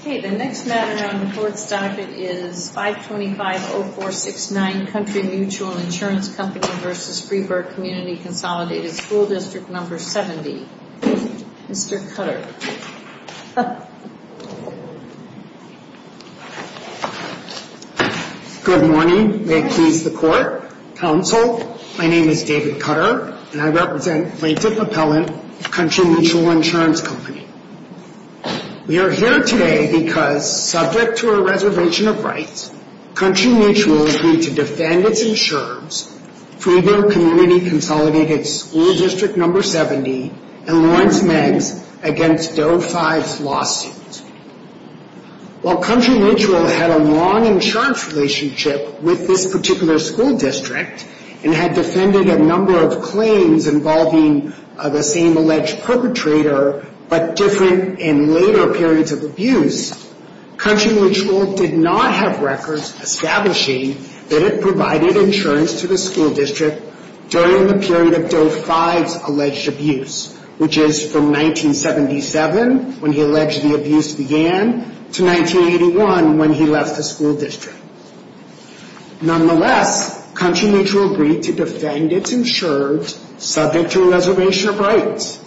Okay, the next matter on the Court's docket is 525-0469, Country Mutual Insurance Company v. Freeburg Community Consolidated School Dist. No. 70, Mr. Cutter. Good morning. May it please the Court, Counsel, my name is David Cutter and I represent Plaintiff Appellant, Country Mutual Insurance Company. We are here today because, subject to a reservation of rights, Country Mutual agreed to defend its insurers, Freeburg Community Consolidated School Dist. No. 70, and Lawrence Meigs, against Doe 5's lawsuit. While Country Mutual had a long insurance relationship with this particular school district and had defended a number of claims involving the same alleged perpetrator, but different in later periods of abuse, Country Mutual did not have records establishing that it provided insurance to the school district during the period of Doe 5's alleged abuse, which is from 1977, when he alleged the abuse began, to 1981, when he left the school district. Nonetheless, Country Mutual agreed to defend its insurers, subject to a reservation of rights.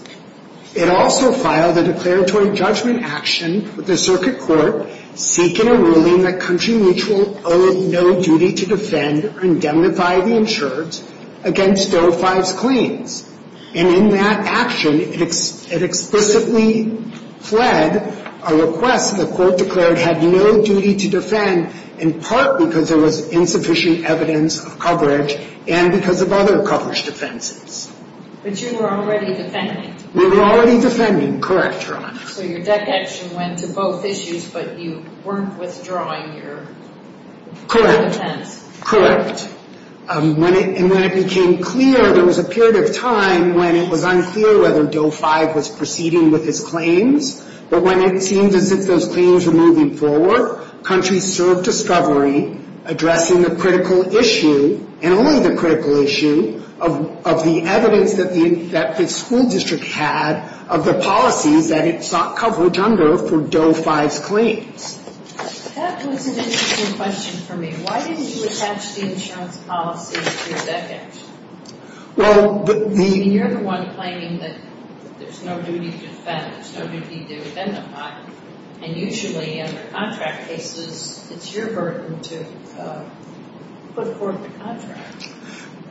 It also filed a declaratory judgment action with the circuit court, seeking a ruling that Country Mutual owed no duty to defend or indemnify the insurers against Doe 5's claims. And in that action, it explicitly fled a request that the court declared had no duty to defend, in part because there was insufficient evidence of coverage, and because of other coverage defenses. But you were already defending? We were already defending. Correct, Your Honor. So your deck action went to both issues, but you weren't withdrawing your defense? Correct. And when it became clear, there was a period of time when it was unclear whether Doe 5 was proceeding with his claims. But when it seemed as if those claims were moving forward, Country served discovery, addressing the critical issue, and only the critical issue, of the evidence that the school district had of the policies that it sought coverage under for Doe 5's claims. That was an interesting question for me. Why didn't you attach the insurance policies to your deck action? Well, the... And you're the one claiming that there's no duty to defend, there's no duty to indemnify. And usually, under contract cases, it's your burden to put forth a contract.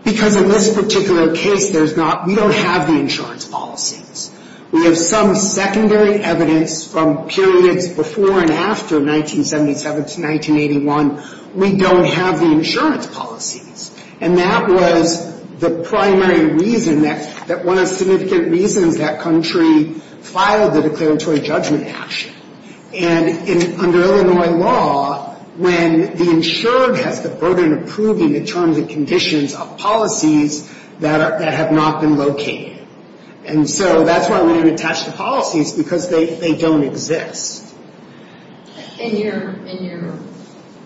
Because in this particular case, there's not, we don't have the insurance policies. We have some secondary evidence from periods before and after 1977 to 1981, we don't have the insurance policies. And that was the primary reason that, that one of the significant reasons that Country filed the declaratory judgment action. And under Illinois law, when the insurer has the burden of proving the terms and conditions of policies that have not been located. And so, that's why we didn't attach the policies, because they don't exist. In your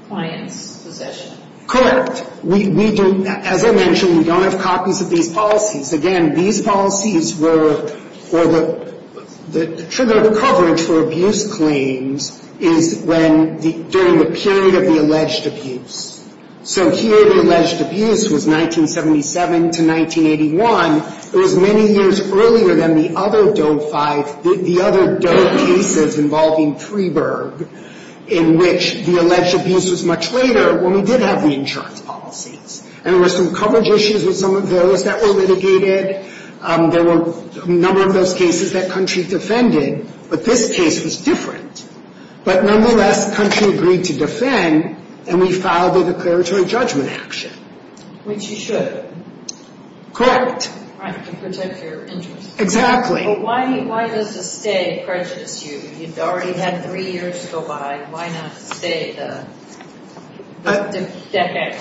client's possession? Correct. We don't, as I mentioned, we don't have copies of these policies. Again, these policies were, or the trigger coverage for abuse claims is when, during the period of the alleged abuse. So here, the alleged abuse was 1977 to 1981. It was many years earlier than the other Doe 5, the other Doe cases involving Freeburg, in which the alleged abuse was much later. When we did have the insurance policies. And there were some coverage issues with some of those that were litigated. There were a number of those cases that Country defended, but this case was different. But nonetheless, Country agreed to defend, and we filed the declaratory judgment action. Which you should. Correct. Right, to protect your interests. Exactly. Why does a stay prejudice you? You've already had three years go by. Why not stay the decade?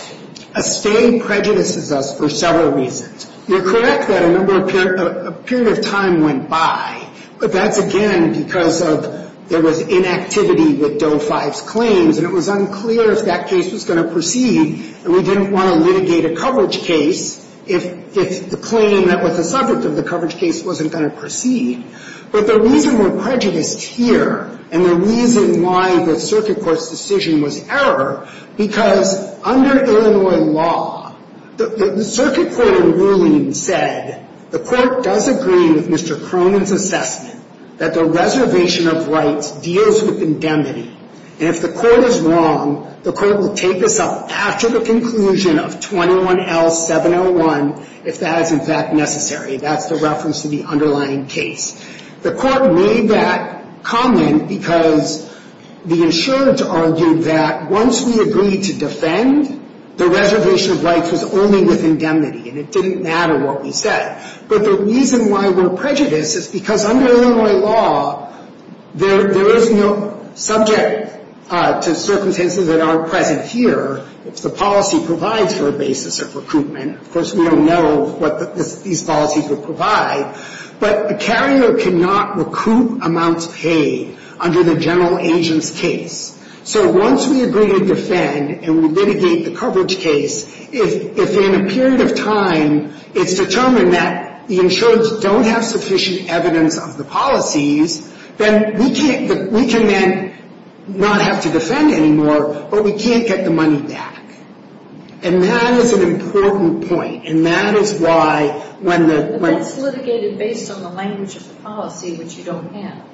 A stay prejudices us for several reasons. You're correct that a number of, a period of time went by. But that's, again, because of, there was inactivity with Doe 5's claims. And it was unclear if that case was going to proceed. And we didn't want to litigate a coverage case if the claim that was the subject of the coverage case wasn't going to proceed. But the reason we're prejudiced here, and the reason why the circuit court's decision was error, because under Illinois law, the circuit court in ruling said, the court does agree with Mr. Cronin's assessment that the reservation of rights deals with indemnity. And if the court is wrong, the court will take this up after the conclusion of 21L701, if that is in fact necessary. That's the reference to the underlying case. The court made that comment because the insurance argued that once we agreed to defend, the reservation of rights was only with indemnity. And it didn't matter what we said. But the reason why we're prejudiced is because under Illinois law, there is no subject to circumstances that aren't present here, if the policy provides for a basis of recoupment. Of course, we don't know what these policies would provide. But a carrier cannot recoup amounts paid under the general agent's case. So once we agree to defend and we litigate the coverage case, if in a period of time it's determined that the insurers don't have sufficient evidence of the policies, then we can then not have to defend anymore, but we can't get the money back. And that is an important point. And that is why when the... But that's litigated based on the language of the policy, which you don't have.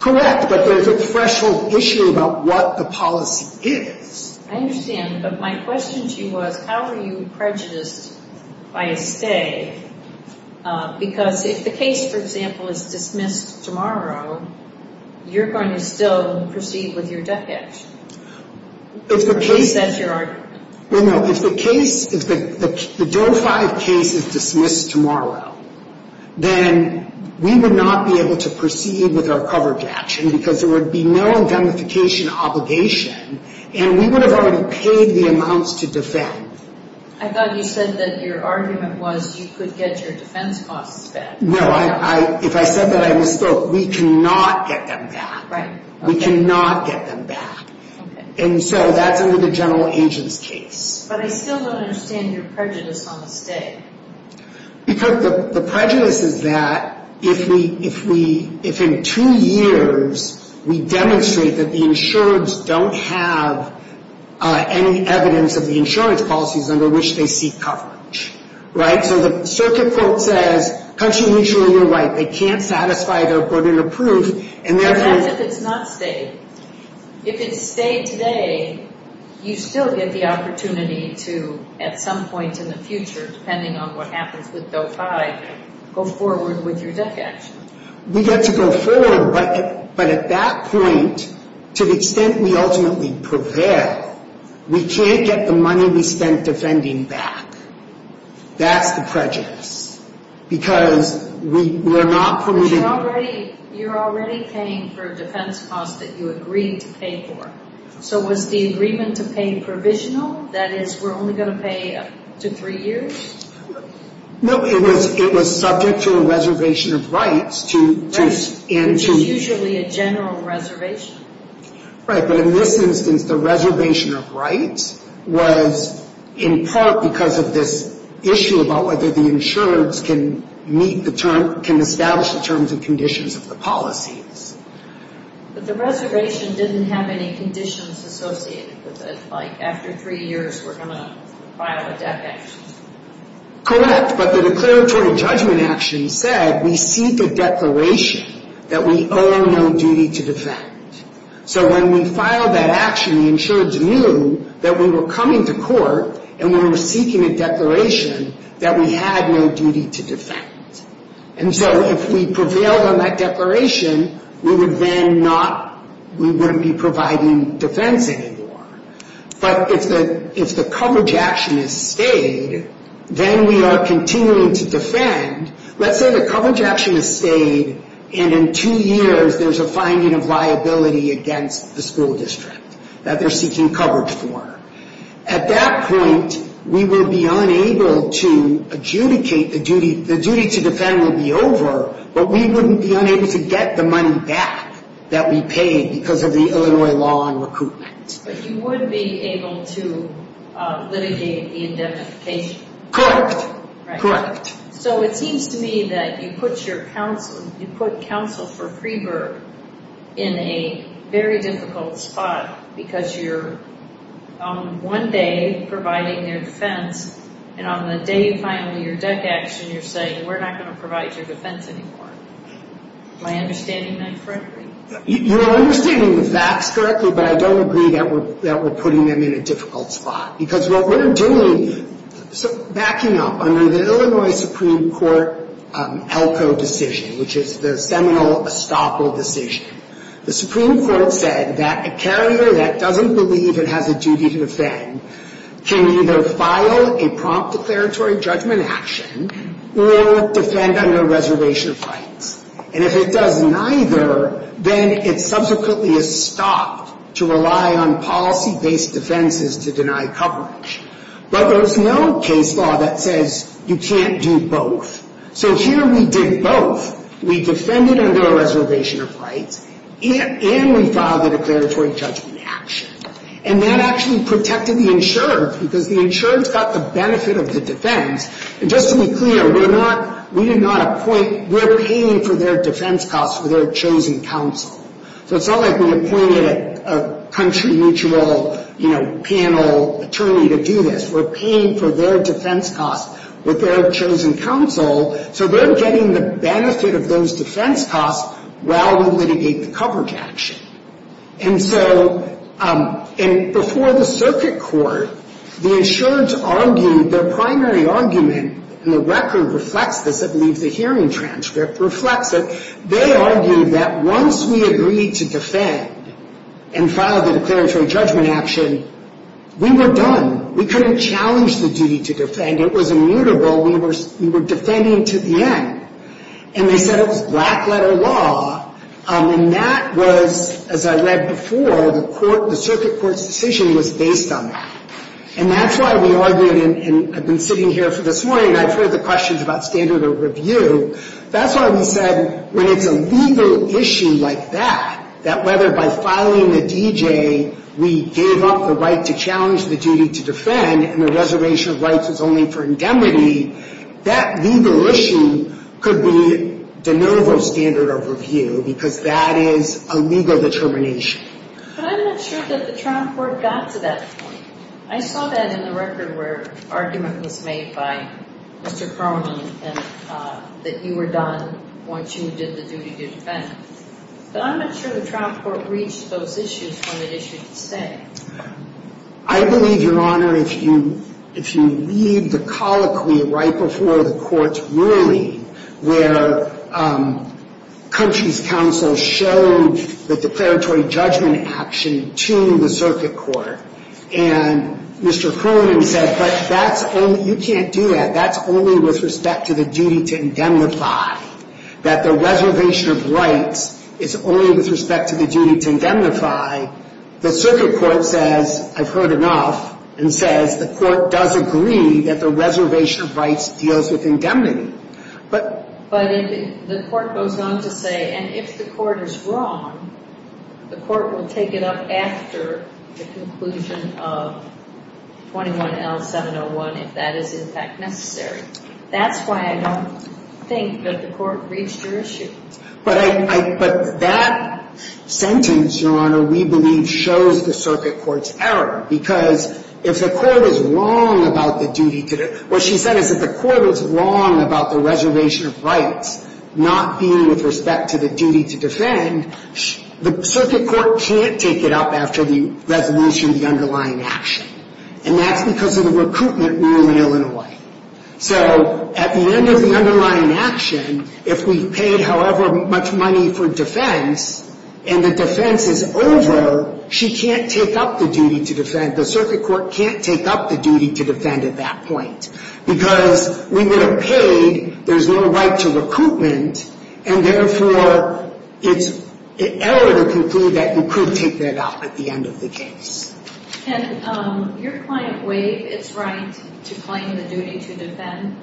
Correct, but there's a threshold issue about what the policy is. I understand, but my question to you was, how are you prejudiced by a stay? Because if the case, for example, is dismissed tomorrow, you're going to still proceed with your death action. Or at least that's your argument. No, no. If the case... If the DOE-5 case is dismissed tomorrow, then we would not be able to proceed with our coverage action because there would be no indemnification obligation. And we would have already paid the amounts to defend. I thought you said that your argument was you could get your defense costs back. No, if I said that, I misspoke. We cannot get them back. We cannot get them back. And so that's under the general agent's case. But I still don't understand your prejudice on the stay. Because the prejudice is that if in two years we demonstrate that the insurers don't have any evidence of the insurance policies under which they seek coverage, right? So the circuit court says, country, mutual, you're right. They can't satisfy their burden of proof. But what if it's not stayed? If it's stayed today, you still get the opportunity to, at some point in the future, depending on what happens with DOE-5, go forward with your death action. We get to go forward, but at that point, to the extent we ultimately prevail, we can't get the money we spent defending back. That's the prejudice. Because we're not... But you're already paying for defense costs that you agreed to pay for. So was the agreement to pay provisional? That is, we're only going to pay up to three years? No, it was subject to a reservation of rights to... Which is usually a general reservation. Right, but in this instance, the reservation of rights was in part because of this issue about whether the insurers can meet the terms, can establish the terms and conditions of the policies. But the reservation didn't have any conditions associated with it, like after three years, we're going to file a death action. Correct, but the declaratory judgment action said we seek a declaration that we owe no duty to defend. So when we filed that action, the insurers knew that we were coming to court and we were seeking a declaration that we had no duty to defend. And so if we prevailed on that declaration, we would then not... We wouldn't be providing defense anymore. But if the coverage action is stayed, then we are continuing to defend. Let's say the coverage action is stayed and in two years there's a finding of liability against the school district that they're seeking coverage for. At that point, we will be unable to adjudicate the duty... The duty to defend will be over, but we wouldn't be unable to get the money back that we paid because of the Illinois law on recruitment. But you would be able to litigate the indemnification? Correct, correct. So it seems to me that you put your counsel, you put counsel for Freeburg in a very difficult spot because you're one day providing their defense and on the day you file your death action you're saying we're not going to provide your defense anymore. Am I understanding that correctly? You're understanding the facts correctly, but I don't agree that we're putting them in a difficult spot because what we're doing... Backing up, under the Illinois Supreme Court ELCO decision, which is the seminal estoppel decision, the Supreme Court said that a carrier that doesn't believe it has a duty to defend can either file a prompt declaratory judgment action or defend under a reservation of rights. And if it does neither, then it subsequently is stopped to rely on policy-based defenses to deny coverage. But there's no case law that says you can't do both. So here we did both. We defended under a reservation of rights and we filed a declaratory judgment action. And that actually protected the insurer because the insurer got the benefit of the defense. And just to be clear, we're not... We do not appoint... We're paying for their defense costs with their chosen counsel. So it's not like we appointed a country mutual, you know, panel attorney to do this. We're paying for their defense costs with their chosen counsel, so they're getting the benefit of those defense costs while we litigate the coverage action. And so... And before the circuit court, the insurance argued their primary argument, and the record reflects this. I believe the hearing transcript reflects it. They argued that once we agreed to defend and filed the declaratory judgment action, we were done. We couldn't challenge the duty to defend. It was immutable. We were defending to the end. And they said it was black-letter law. And that was, as I read before, the circuit court's decision was based on that. And that's why we argued, and I've been sitting here for this morning, and I've heard the questions about standard of review. That's why we said, when it's a legal issue like that, that whether by filing the DJ, we gave up the right to challenge the duty to defend, and the reservation of rights was only for indemnity, that legal issue could be de novo standard of review, because that is a legal determination. But I'm not sure that the trial court got to that point. I saw that in the record, where argument was made by Mr. Cronin, that you were done once you did the duty to defend. But I'm not sure the trial court reached those issues when it issued the statement. I believe, Your Honor, if you read the colloquy right before the court's ruling, where country's counsel showed the declaratory judgment action to the circuit court, and Mr. Cronin said, but you can't do that. That's only with respect to the duty to indemnify. That the reservation of rights is only with respect to the duty to indemnify. The circuit court says, I've heard enough, and says the court does agree that the reservation of rights deals with indemnity. But if the court goes on to say, and if the court is wrong, the court will take it up after the conclusion of 21L701, if that is in fact necessary. That's why I don't think that the court reached your issue. But that sentence, Your Honor, we believe shows the circuit court's error. Because if the court is wrong about the duty to, what she said is if the court was wrong about the reservation of rights not being with respect to the duty to defend, the circuit court can't take it up after the resolution of the underlying action. And that's because of the recruitment rule in Illinois. So at the end of the underlying action, if we've paid however much money for defense, and the defense is over, she can't take up the duty to defend. The circuit court can't take up the duty to defend at that point. Because we would have paid, there's no right to recruitment, and therefore it's an error to conclude that you could take that up at the end of the case. Can your client waive its right to claim the duty to defend?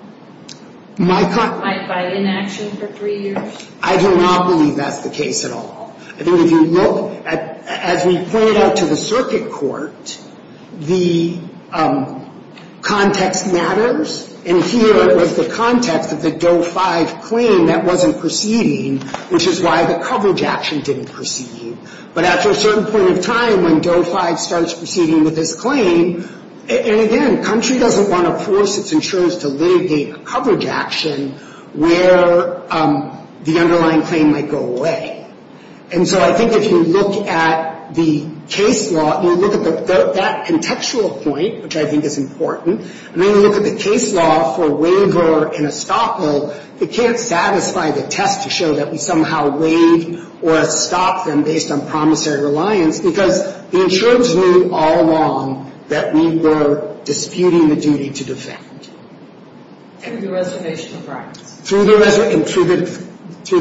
My client... By inaction for three years? I do not believe that's the case at all. I think if you look, as we pointed out to the circuit court, the context matters, and here it was the context of the Doe 5 claim that wasn't proceeding, which is why the coverage action didn't proceed. But after a certain point in time, when Doe 5 starts proceeding with this claim, and again, country doesn't want to force its insurers to litigate a coverage action where the underlying claim might go away. And so I think if you look at the case law, you look at that contextual point, which I think is important, and then you look at the case law for waiver and estoppel, it can't satisfy the test to show that we somehow waived or estopped them based on promissory reliance, because the insurers knew all along that we were disputing the duty to defend. Through the reservation of rights? Through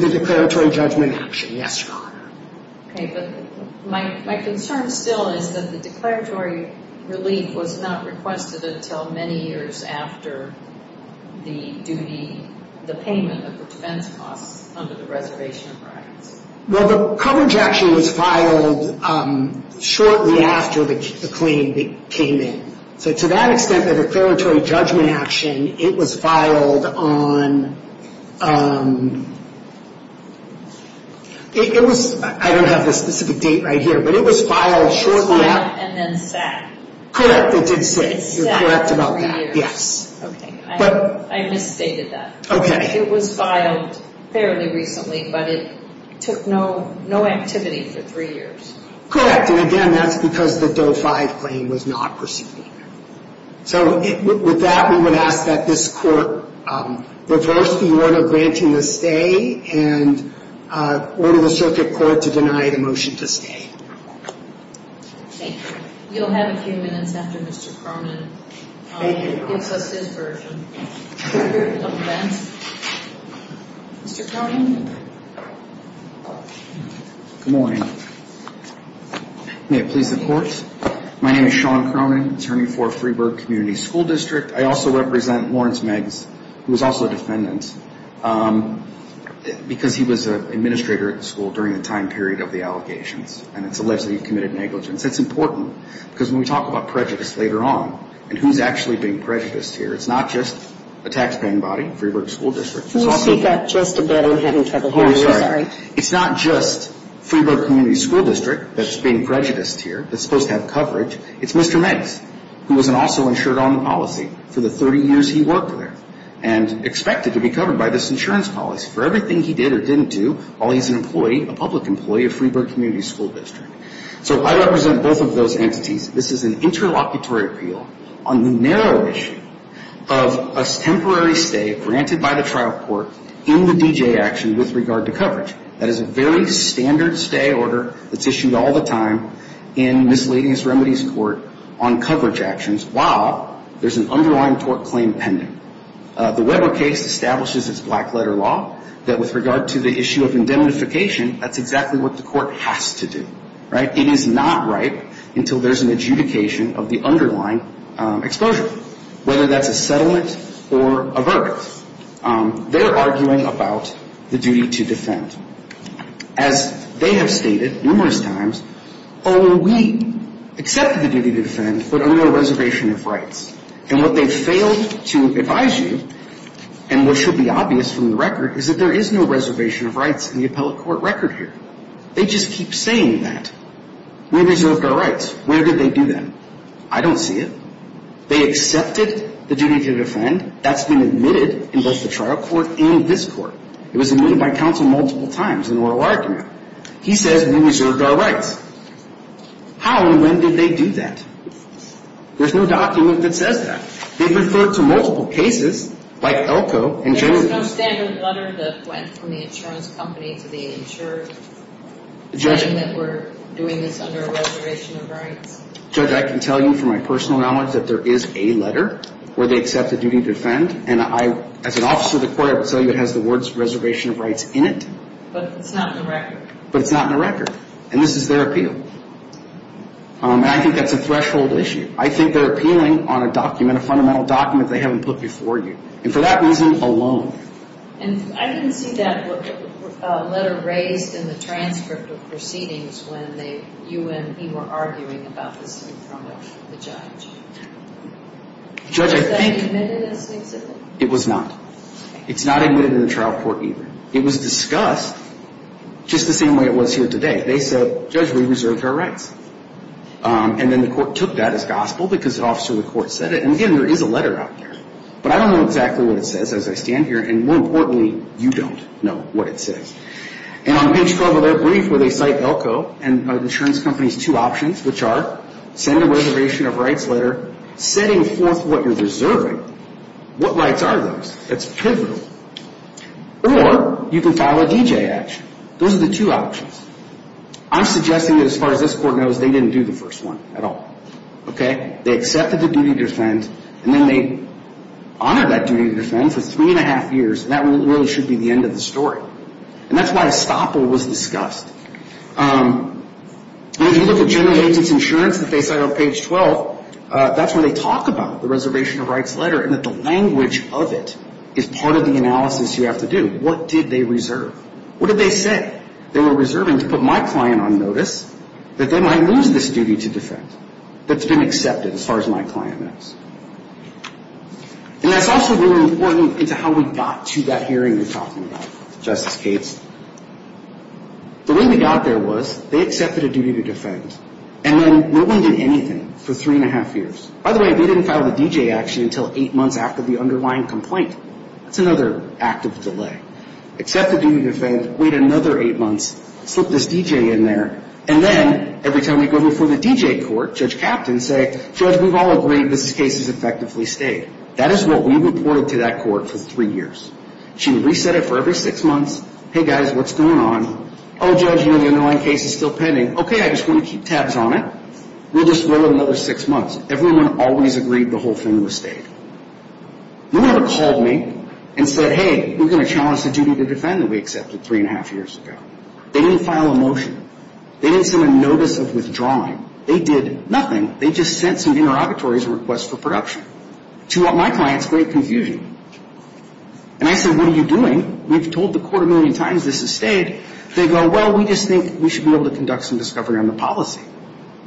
the declaratory judgment action, yes, Your Honor. Okay, but my concern still is that the declaratory relief was not requested until many years after the duty, the payment of the defense costs under the reservation of rights. Well, the coverage action was filed shortly after the claim came in. So to that extent, the declaratory judgment action, it was filed on... I don't have the specific date right here, but it was filed shortly after... It was filed and then sat. Correct, it did sit. It sat for three years. You're correct about that, yes. Okay, I misstated that. Okay. It was filed fairly recently, but it took no activity for three years. Correct, and again, that's because the Doe-5 claim was not pursued either. So with that, we would ask that this Court reverse the order granting the stay and order the Circuit Court to deny the motion to stay. Thank you. We'll have a few minutes after Mr. Cronin gives us his version of events. Mr. Cronin? Good morning. May it please the Court? My name is Sean Cronin, attorney for Freeburg Community School District. I also represent Lawrence Meggs, who is also a defendant, because he was an administrator at the school during the time period of the allegations, and it's alleged that he committed negligence. That's important because when we talk about prejudice later on and who's actually being prejudiced here, it's not just a taxpaying body, Freeburg School District. Can you speak up just a bit? I'm having trouble hearing you. It's not just Freeburg Community School District that's being prejudiced here. It's supposed to have coverage. It's Mr. Meggs, who was also insured on the policy for the 30 years he worked there and expected to be covered by this insurance policy for everything he did or didn't do while he's an employee, a public employee of Freeburg Community School District. So I represent both of those entities. This is an interlocutory appeal on the narrow issue of a temporary stay granted by the trial court in the D.J. action with regard to coverage. That is a very standard stay order that's issued all the time in Misleading Remedies Court on coverage actions while there's an underlying tort claim pending. The Weber case establishes its black letter law that with regard to the issue of indemnification, that's exactly what the court has to do. It is not right until there's an adjudication of the underlying exposure, whether that's a settlement or a verdict. They're arguing about the duty to defend. As they have stated numerous times, oh, we accept the duty to defend, but under a reservation of rights. And what they've failed to advise you, and what should be obvious from the record, is that there is no reservation of rights in the appellate court record here. They just keep saying that. We reserved our rights. Where did they do that? I don't see it. They accepted the duty to defend. That's been admitted in both the trial court and this court. It was admitted by counsel multiple times in oral argument. He says we reserved our rights. How and when did they do that? There's no document that says that. They've referred to multiple cases like Elko and Jones. There's no standard letter that went from the insurance company to the insurer saying that we're doing this under a reservation of rights? Judge, I can tell you from my personal knowledge that there is a letter where they accept the duty to defend, and as an officer of the court I can tell you it has the words reservation of rights in it. But it's not in the record. But it's not in the record. And this is their appeal. And I think that's a threshold issue. I think they're appealing on a document, a fundamental document they haven't put before you. And for that reason alone. And I didn't see that letter raised in the transcript of proceedings when you and me were arguing about this being thrown out to the judge. Was that admitted in this case? It was not. It's not admitted in the trial court either. It was discussed just the same way it was here today. They said, Judge, we reserved our rights. And then the court took that as gospel because an officer of the court said it. And again, there is a letter out there. But I don't know exactly what it says as I stand here. And more importantly, you don't know what it says. And on page 12 of their brief where they cite ELCO and the insurance company's two options, which are send a reservation of rights letter, setting forth what you're reserving, what rights are those? It's pivotal. Or you can file a D.J. action. Those are the two options. I'm suggesting that as far as this court knows, they didn't do the first one at all. They accepted the duty to defend. And then they honored that duty to defend for three and a half years. And that really should be the end of the story. And that's why estoppel was discussed. And if you look at general agent's insurance that they cite on page 12, that's when they talk about the reservation of rights letter and that the language of it is part of the analysis you have to do. What did they reserve? What did they say? They were reserving to put my client on notice that they might lose this duty to defend. That's been accepted as far as my client knows. And that's also really important into how we got to that hearing you're talking about, Justice Cates. The way we got there was they accepted a duty to defend. And then we wouldn't do anything for three and a half years. By the way, they didn't file the D.J. action until eight months after the underlying complaint. That's another act of delay. Accept the duty to defend, wait another eight months, slip this D.J. in there, and then every time we go before the D.J. court, Judge Kaptan say, Judge, we've all agreed this case is effectively stayed. That is what we reported to that court for three years. She reset it for every six months. Hey, guys, what's going on? Oh, Judge, you know, the underlying case is still pending. Okay, I just want to keep tabs on it. We'll just wait another six months. Everyone always agreed the whole thing was stayed. No one ever called me and said, hey, we're going to challenge the duty to defend that we accepted three and a half years ago. They didn't file a motion. They didn't send a notice of withdrawing. They did nothing. They just sent some interrogatories and requests for production. To my clients, great confusion. And I said, what are you doing? We've told the court a million times this is stayed. They go, well, we just think we should be able to conduct some discovery on the policy.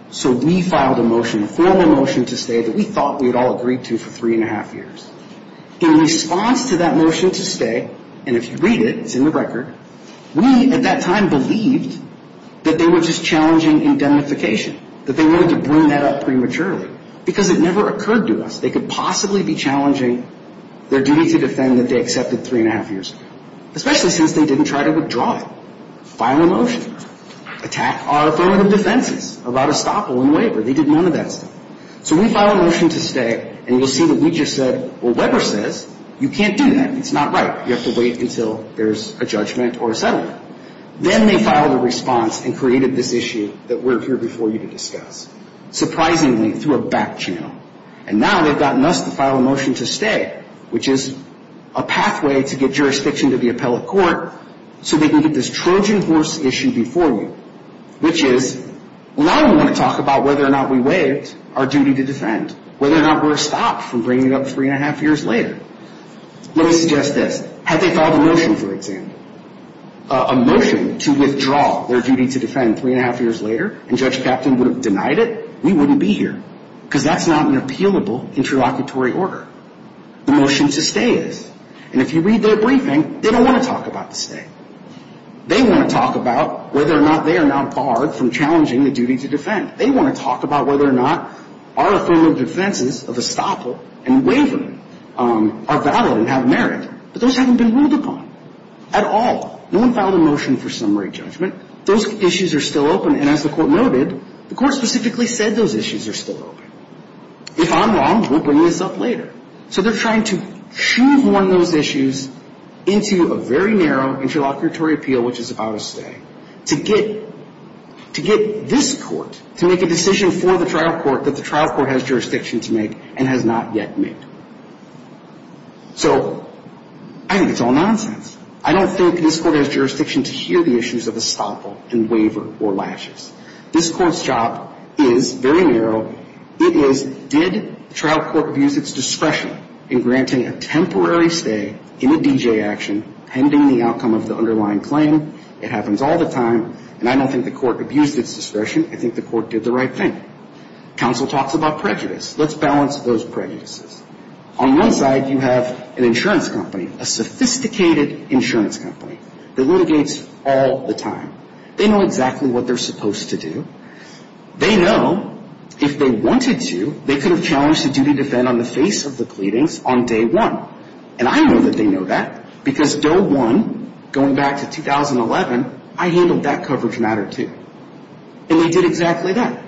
So we filed a motion, a formal motion to stay that we thought we had all agreed to for three and a half years. In response to that motion to stay, and if you read it, it's in the record, we at that time believed that they were just challenging indemnification, that they wanted to bring that up prematurely. Because it never occurred to us they could possibly be challenging their duty to defend that they accepted three and a half years ago, especially since they didn't try to withdraw it. File a motion. Attack our affirmative defenses about estoppel and waiver. They did none of that stuff. So we filed a motion to stay, and you'll see that we just said, well, Weber says you can't do that. It's not right. You have to wait until there's a judgment or a settlement. Then they filed a response and created this issue that we're here before you to discuss. Surprisingly, through a back channel. And now they've gotten us to file a motion to stay, which is a pathway to get jurisdiction to the appellate court so they can get this Trojan horse issue before you, which is, well, now we want to talk about whether or not we waived our duty to defend, whether or not we're stopped from bringing it up three and a half years later. Let me suggest this. Had they filed a motion, for example, a motion to withdraw their duty to defend three and a half years later and Judge Kapton would have denied it, we wouldn't be here because that's not an appealable interlocutory order. The motion to stay is. And if you read their briefing, they don't want to talk about the stay. They want to talk about whether or not they are not barred from challenging the duty to defend. They want to talk about whether or not our affirmative defenses of estoppel and waiver are valid and have merit. But those haven't been ruled upon at all. No one filed a motion for summary judgment. Those issues are still open, and as the court noted, the court specifically said those issues are still open. If I'm wrong, we'll bring this up later. So they're trying to shoehorn those issues into a very narrow interlocutory appeal, which is about a stay, to get this court to make a decision for the trial court that the trial court has jurisdiction to make and has not yet made. So I think it's all nonsense. I don't think this court has jurisdiction to hear the issues of estoppel and waiver or latches. This court's job is very narrow. It is, did the trial court abuse its discretion in granting a temporary stay in a DJ action pending the outcome of the underlying claim? It happens all the time, and I don't think the court abused its discretion. I think the court did the right thing. Counsel talks about prejudice. Let's balance those prejudices. On one side, you have an insurance company, a sophisticated insurance company that litigates all the time. They know exactly what they're supposed to do. They know if they wanted to, they could have challenged the duty to defend on the face of the pleadings on day one, and I know that they know that because Doe 1, going back to 2011, I handled that coverage matter, too. And they did exactly that.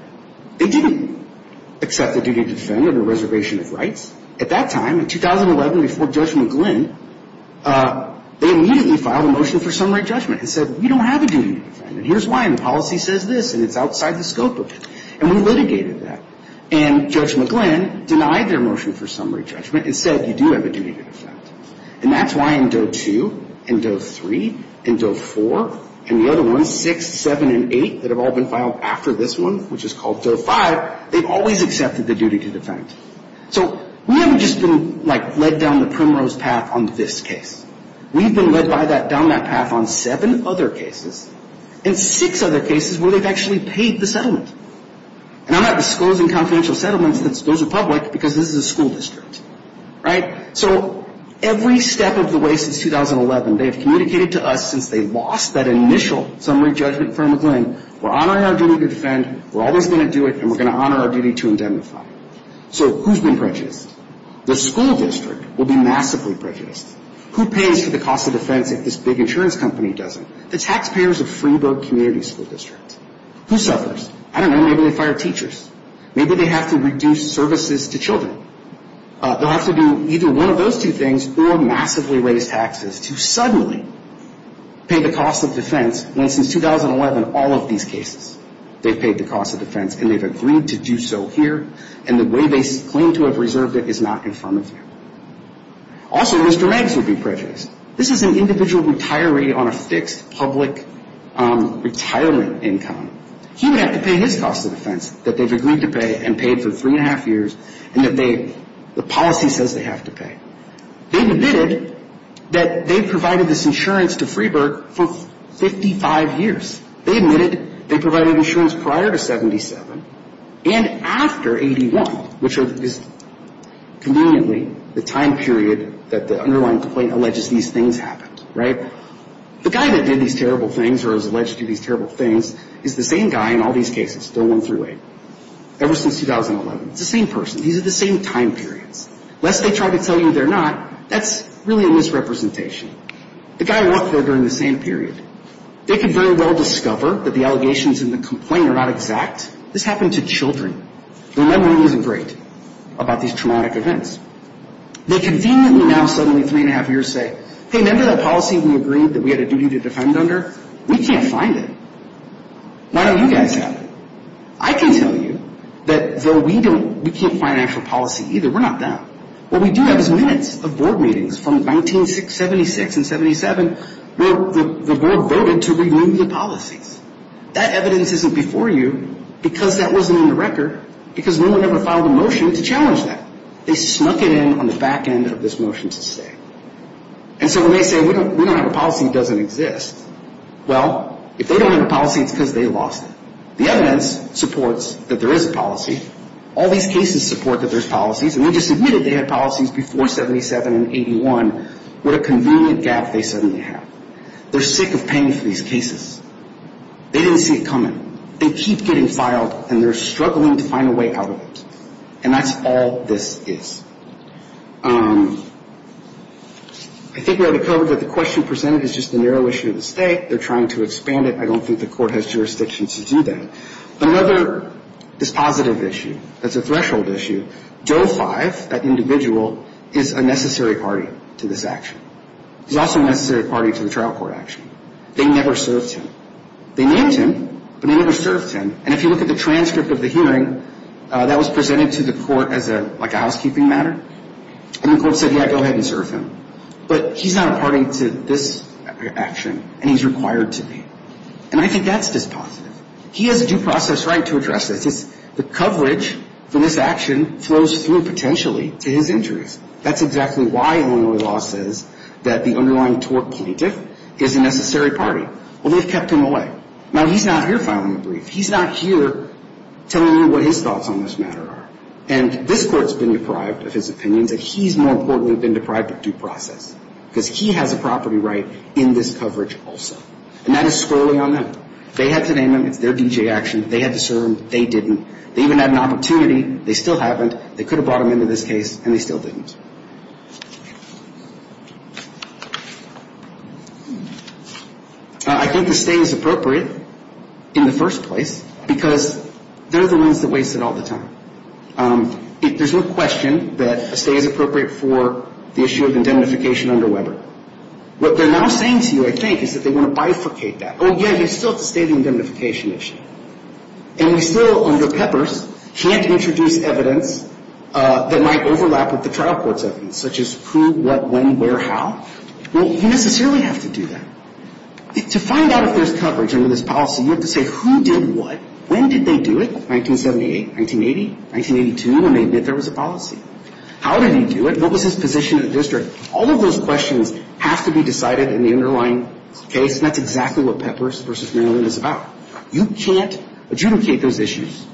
They didn't accept the duty to defend under reservation of rights. At that time, in 2011, before Judge McGlynn, they immediately filed a motion for summary judgment and said, we don't have a duty to defend, and here's why, and the policy says this, and it's outside the scope of it. And we litigated that. And Judge McGlynn denied their motion for summary judgment and said, you do have a duty to defend. And that's why in Doe 2 and Doe 3 and Doe 4 and the other ones, 6, 7, and 8, that have all been filed after this one, which is called Doe 5, they've always accepted the duty to defend. So we haven't just been, like, led down the primrose path on this case. We've been led down that path on seven other cases, and six other cases where they've actually paid the settlement. And I'm not disclosing confidential settlements, those are public, because this is a school district. Right? So every step of the way since 2011, they've communicated to us since they lost that initial summary judgment from McGlynn, we're honoring our duty to defend, we're always going to do it, and we're going to honor our duty to indemnify. So who's been prejudiced? The school district will be massively prejudiced. Who pays for the cost of defense if this big insurance company doesn't? The taxpayers of Freeburg Community School District. Who suffers? I don't know. Maybe they fire teachers. Maybe they have to reduce services to children. They'll have to do either one of those two things or massively raise taxes to suddenly pay the cost of defense. And since 2011, all of these cases, they've paid the cost of defense, and they've agreed to do so here, and the way they claim to have reserved it is not confirmative. Also, Mr. Maggs would be prejudiced. This is an individual retiree on a fixed public retirement income. He would have to pay his cost of defense that they've agreed to pay and paid for three and a half years and that the policy says they have to pay. They've admitted that they provided this insurance to Freeburg for 55 years. They admitted they provided insurance prior to 77 and after 81, which is conveniently the time period that the underlying complaint alleges these things happened, right? The guy that did these terrible things or is alleged to do these terrible things is the same guy in all these cases, Bill 1 through 8, ever since 2011. It's the same person. These are the same time periods. Lest they try to tell you they're not, that's really a misrepresentation. The guy walked there during the same period. They could very well discover that the allegations in the complaint are not exact. This happened to children. Their memory isn't great about these traumatic events. They conveniently now suddenly three and a half years say, hey, remember that policy we agreed that we had a duty to defend under? We can't find it. Why don't you guys have it? I can tell you that though we don't, we can't find actual policy either. We're not them. What we do have is minutes of board meetings from 1976 and 77 where the board voted to renew the policies. That evidence isn't before you because that wasn't in the record because no one ever filed a motion to challenge that. They snuck it in on the back end of this motion to stay. And so when they say we don't have a policy, it doesn't exist. Well, if they don't have a policy, it's because they lost it. The evidence supports that there is a policy. All these cases support that there's policies, and they just admitted they had policies before 77 and 81. What a convenient gap they suddenly have. They're sick of paying for these cases. They didn't see it coming. They keep getting filed, and they're struggling to find a way out of it. And that's all this is. I think we have it covered that the question presented is just the narrow issue of the state. They're trying to expand it. I don't think the court has jurisdiction to do that. Another dispositive issue that's a threshold issue, Joe Five, that individual, is a necessary party to this action. He's also a necessary party to the trial court action. They never served him. They named him, but they never served him. And if you look at the transcript of the hearing, that was presented to the court as, like, a housekeeping matter. And the court said, yeah, go ahead and serve him. But he's not a party to this action, and he's required to be. And I think that's dispositive. He has a due process right to address this. The coverage for this action flows through, potentially, to his injuries. That's exactly why Illinois law says that the underlying tort plaintiff is a necessary party. Well, they've kept him away. Now, he's not here filing a brief. He's not here telling you what his thoughts on this matter are. And this court's been deprived of his opinions, and he's more importantly been deprived of due process, because he has a property right in this coverage also. And that is squarely on them. They had to name him. It's their D.J. action. They had to serve him. They didn't. They even had an opportunity. They still haven't. They could have brought him into this case, and they still didn't. I think the stay is appropriate in the first place, because they're the ones that waste it all the time. There's no question that a stay is appropriate for the issue of indemnification under Weber. What they're now saying to you, I think, is that they want to bifurcate that. Oh, yeah, you still have to stay on the indemnification issue. And we still, under Peppers, can't introduce evidence that might overlap with the trial court. To find out if there's coverage under this policy, you have to say who did what, when did they do it, 1978, 1980, 1982, and they admit there was a policy. How did he do it? What was his position in the district? All of those questions have to be decided in the underlying case, and that's exactly what Peppers v. Merrill Lynn is about. You can't adjudicate those issues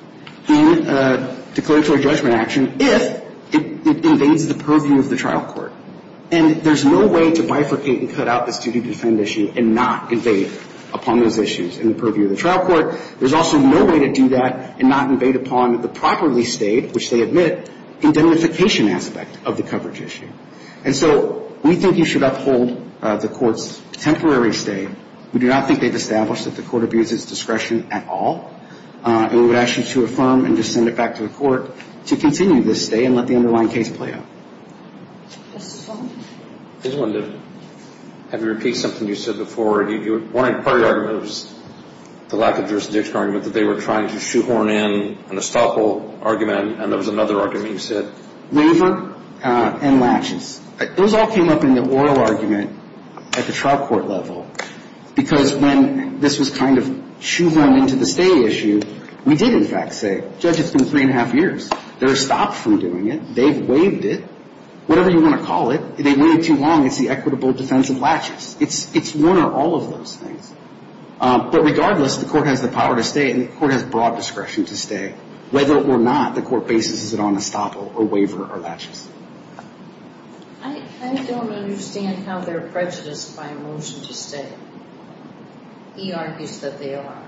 in a declaratory judgment action if it invades the purpose of the case. And there's no way to bifurcate and cut out this duty to defend issue and not invade upon those issues in the purview of the trial court. There's also no way to do that and not invade upon the properly stayed, which they admit, indemnification aspect of the coverage issue. And so we think you should uphold the court's temporary stay. We do not think they've established that the court abuses discretion at all, and we would ask you to affirm and just send it back to the court to continue this stay and let the underlying case play out. Mr. Sullivan. Ms. Linden, have you repeated something you said before? One important argument was the lack of jurisdiction argument, that they were trying to shoehorn in an estoppel argument, and there was another argument you said. Waiver and laches. Those all came up in the oral argument at the trial court level, because when this was kind of shoehorned into the trial court, it was a case of, I don't know, three and a half years. They're stopped from doing it. They've waived it. Whatever you want to call it. They waived too long. It's the equitable defense of laches. It's one or all of those things. But regardless, the court has the power to stay and the court has broad discretion to stay. Whether or not the court bases it on estoppel or waiver or laches. I don't understand how they're prejudiced by a motion to stay. He argues that they are.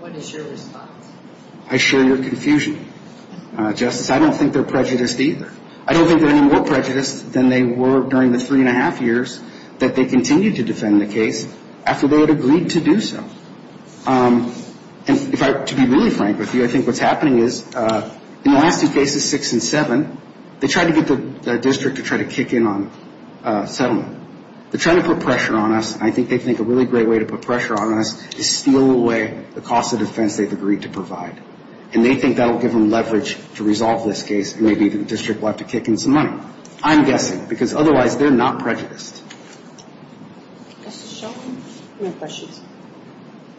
What is your response? I share your confusion, Justice. I don't think they're prejudiced either. I don't think they're any more prejudiced than they were during the three and a half years that they continued to defend the case after they had agreed to do so. And to be really frank with you, I think what's happening is in the last two cases, six and seven, they tried to get the district to try to kick in on settlement. They're trying to put pressure on us, and I think they think a really great way to put pressure on us is steal away the cost of defense they've agreed to provide. And they think that will give them leverage to resolve this case and maybe the district will have to kick in some money. I'm guessing. Because otherwise, they're not prejudiced. Justice Shelton? No questions.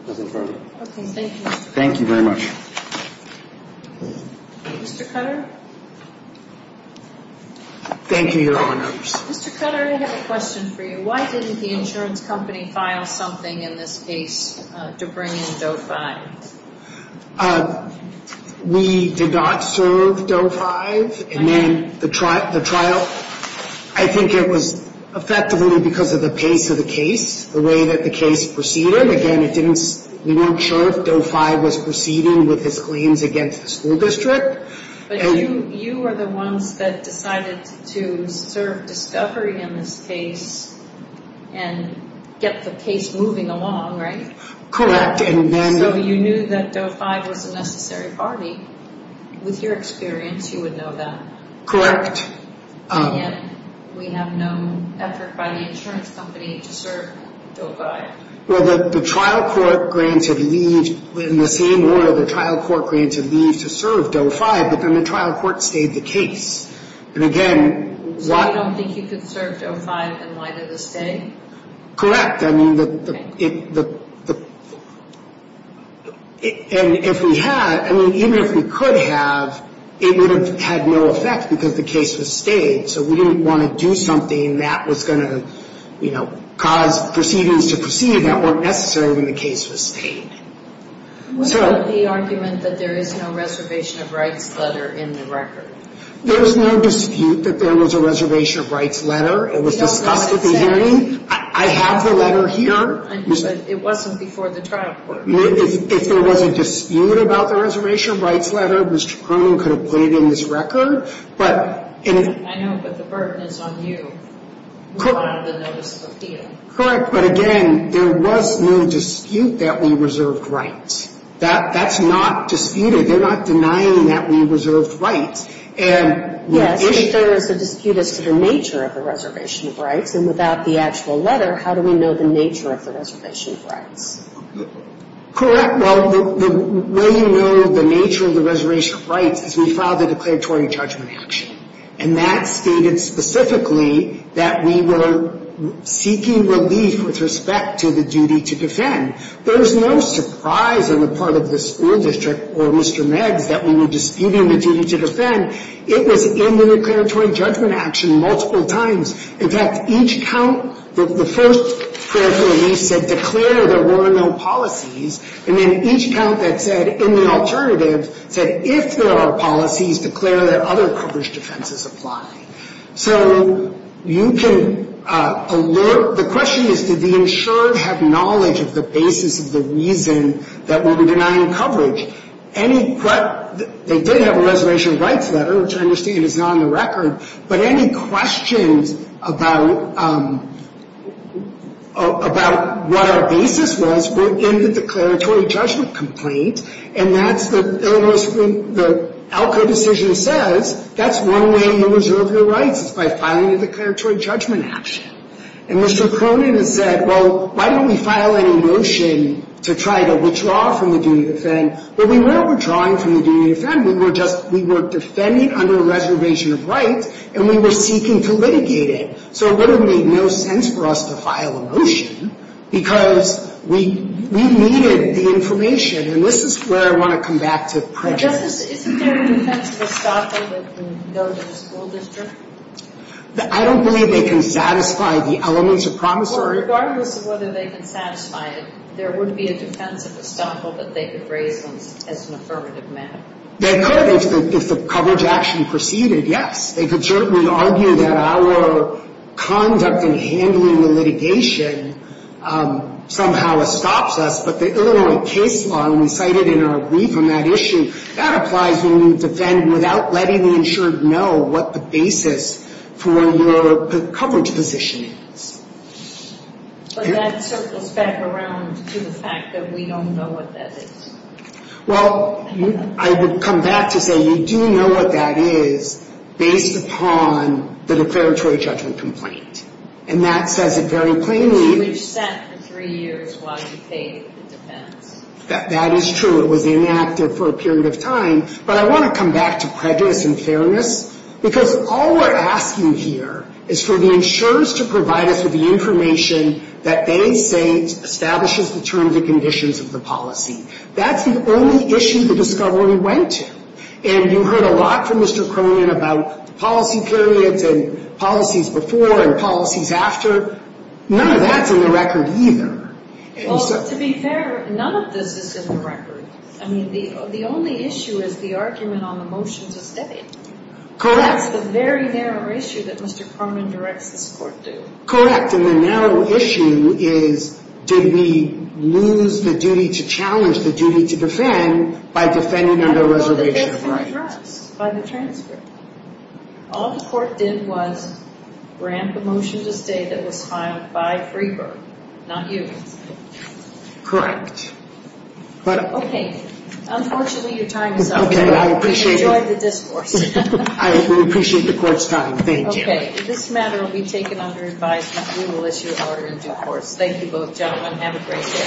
Nothing further. Okay. Thank you. Thank you very much. Mr. Cutter? Thank you, Your Honors. Mr. Cutter, I have a question for you. Why didn't the insurance company file something in this case to bring in Doe 5? We did not serve Doe 5. And then the trial, I think it was effectively because of the pace of the case, the way that the case proceeded. Again, we weren't sure if Doe 5 was proceeding with his claims against the school district. But you were the ones that decided to serve discovery in this case and get the case moving along, right? Correct. So you knew that Doe 5 was a necessary party. With your experience, you would know that. Correct. And yet, we have no effort by the insurance company to serve Doe 5. Well, the trial court granted leave. In the same order, the trial court granted leave to serve Doe 5. But then the trial court stayed the case. And again... So you don't think you could serve Doe 5, and why did this stay? Correct. I mean, the... And if we had, I mean, even if we could have, it would have had no effect because the case was served. The case was stayed. So we didn't want to do something that was going to, you know, cause proceedings to proceed that weren't necessary when the case was stayed. What about the argument that there is no reservation of rights letter in the record? There was no dispute that there was a reservation of rights letter. It was discussed at the hearing. I have the letter here. But it wasn't before the trial court. If there was a dispute about the reservation of rights letter, Mr. Cronin could have put it in his record, but... I know, but the burden is on you. Correct, but again, there was no dispute that we reserved rights. That's not disputed. They're not denying that we reserved rights. Yes, but there is a dispute as to the nature of the reservation of rights, and without the actual letter, how do we know the nature of the reservation of rights? Correct. Well, the way you know the nature of the reservation of rights is we filed a declaratory judgment action. And that stated specifically that we were seeking relief with respect to the duty to defend. There was no surprise on the part of the school district or Mr. Meigs that we were disputing the duty to defend. It was in the declaratory judgment action multiple times. In fact, each count, the first prayer for relief said declare there were no policies. And then each count that said, in the alternative, said if there are policies, declare that other coverage defenses apply. So you can alert, the question is, did the insurer have knowledge of the basis of the reason that we were denying coverage? Any, they did have a reservation of rights letter, which I understand is not on the record. But any questions about, about what our basis was were in the declaratory judgment complaint. And that's the, the ALCA decision says that's one way you reserve your rights is by filing a declaratory judgment action. And Mr. Cronin has said, well, why don't we file a motion to try to withdraw from the duty to defend? But we weren't withdrawing from the duty to defend, we were just, we were defending under a reservation of rights, and we were seeking to litigate it. So it literally made no sense for us to file a motion, because we, we needed the information. And this is where I want to come back to prejudice. I don't believe they can satisfy the elements of promissory. Regardless of whether they can satisfy it, there wouldn't be a defense of estoppel that they could raise as an affirmative matter. They could, if the coverage action proceeded, yes. They could certainly argue that our conduct in handling the litigation somehow estops us. But the Illinois case law, and we cited in our brief on that issue, that applies when you defend without letting the insurer know what the basis for your coverage position is. But that circles back around to the fact that we don't know what that is. Well, I would come back to say you do know what that is, based upon the declaratory judgment complaint. And that says it very plainly. You were sent for three years while you paid the defense. That is true, it was inactive for a period of time. But I want to come back to prejudice and fairness, because all we're asking here is for the insurers to provide us with the information that they say establishes the terms and conditions of the policy. That's the only issue the discovery went to. And you heard a lot from Mr. Cronin about policy periods and policies before and policies after. None of that's in the record either. Well, to be fair, none of this is in the record. I mean, the only issue is the argument on the motion to stay. Correct. That's the very narrow issue that Mr. Cronin directs this Court to. Correct, and the narrow issue is, did we lose the duty to challenge the duty to defend by defending under a reservation of rights? By the transfer. All the Court did was grant the motion to stay that was filed by Freeberg, not you. Correct. Okay, unfortunately your time is up. Okay, I appreciate it.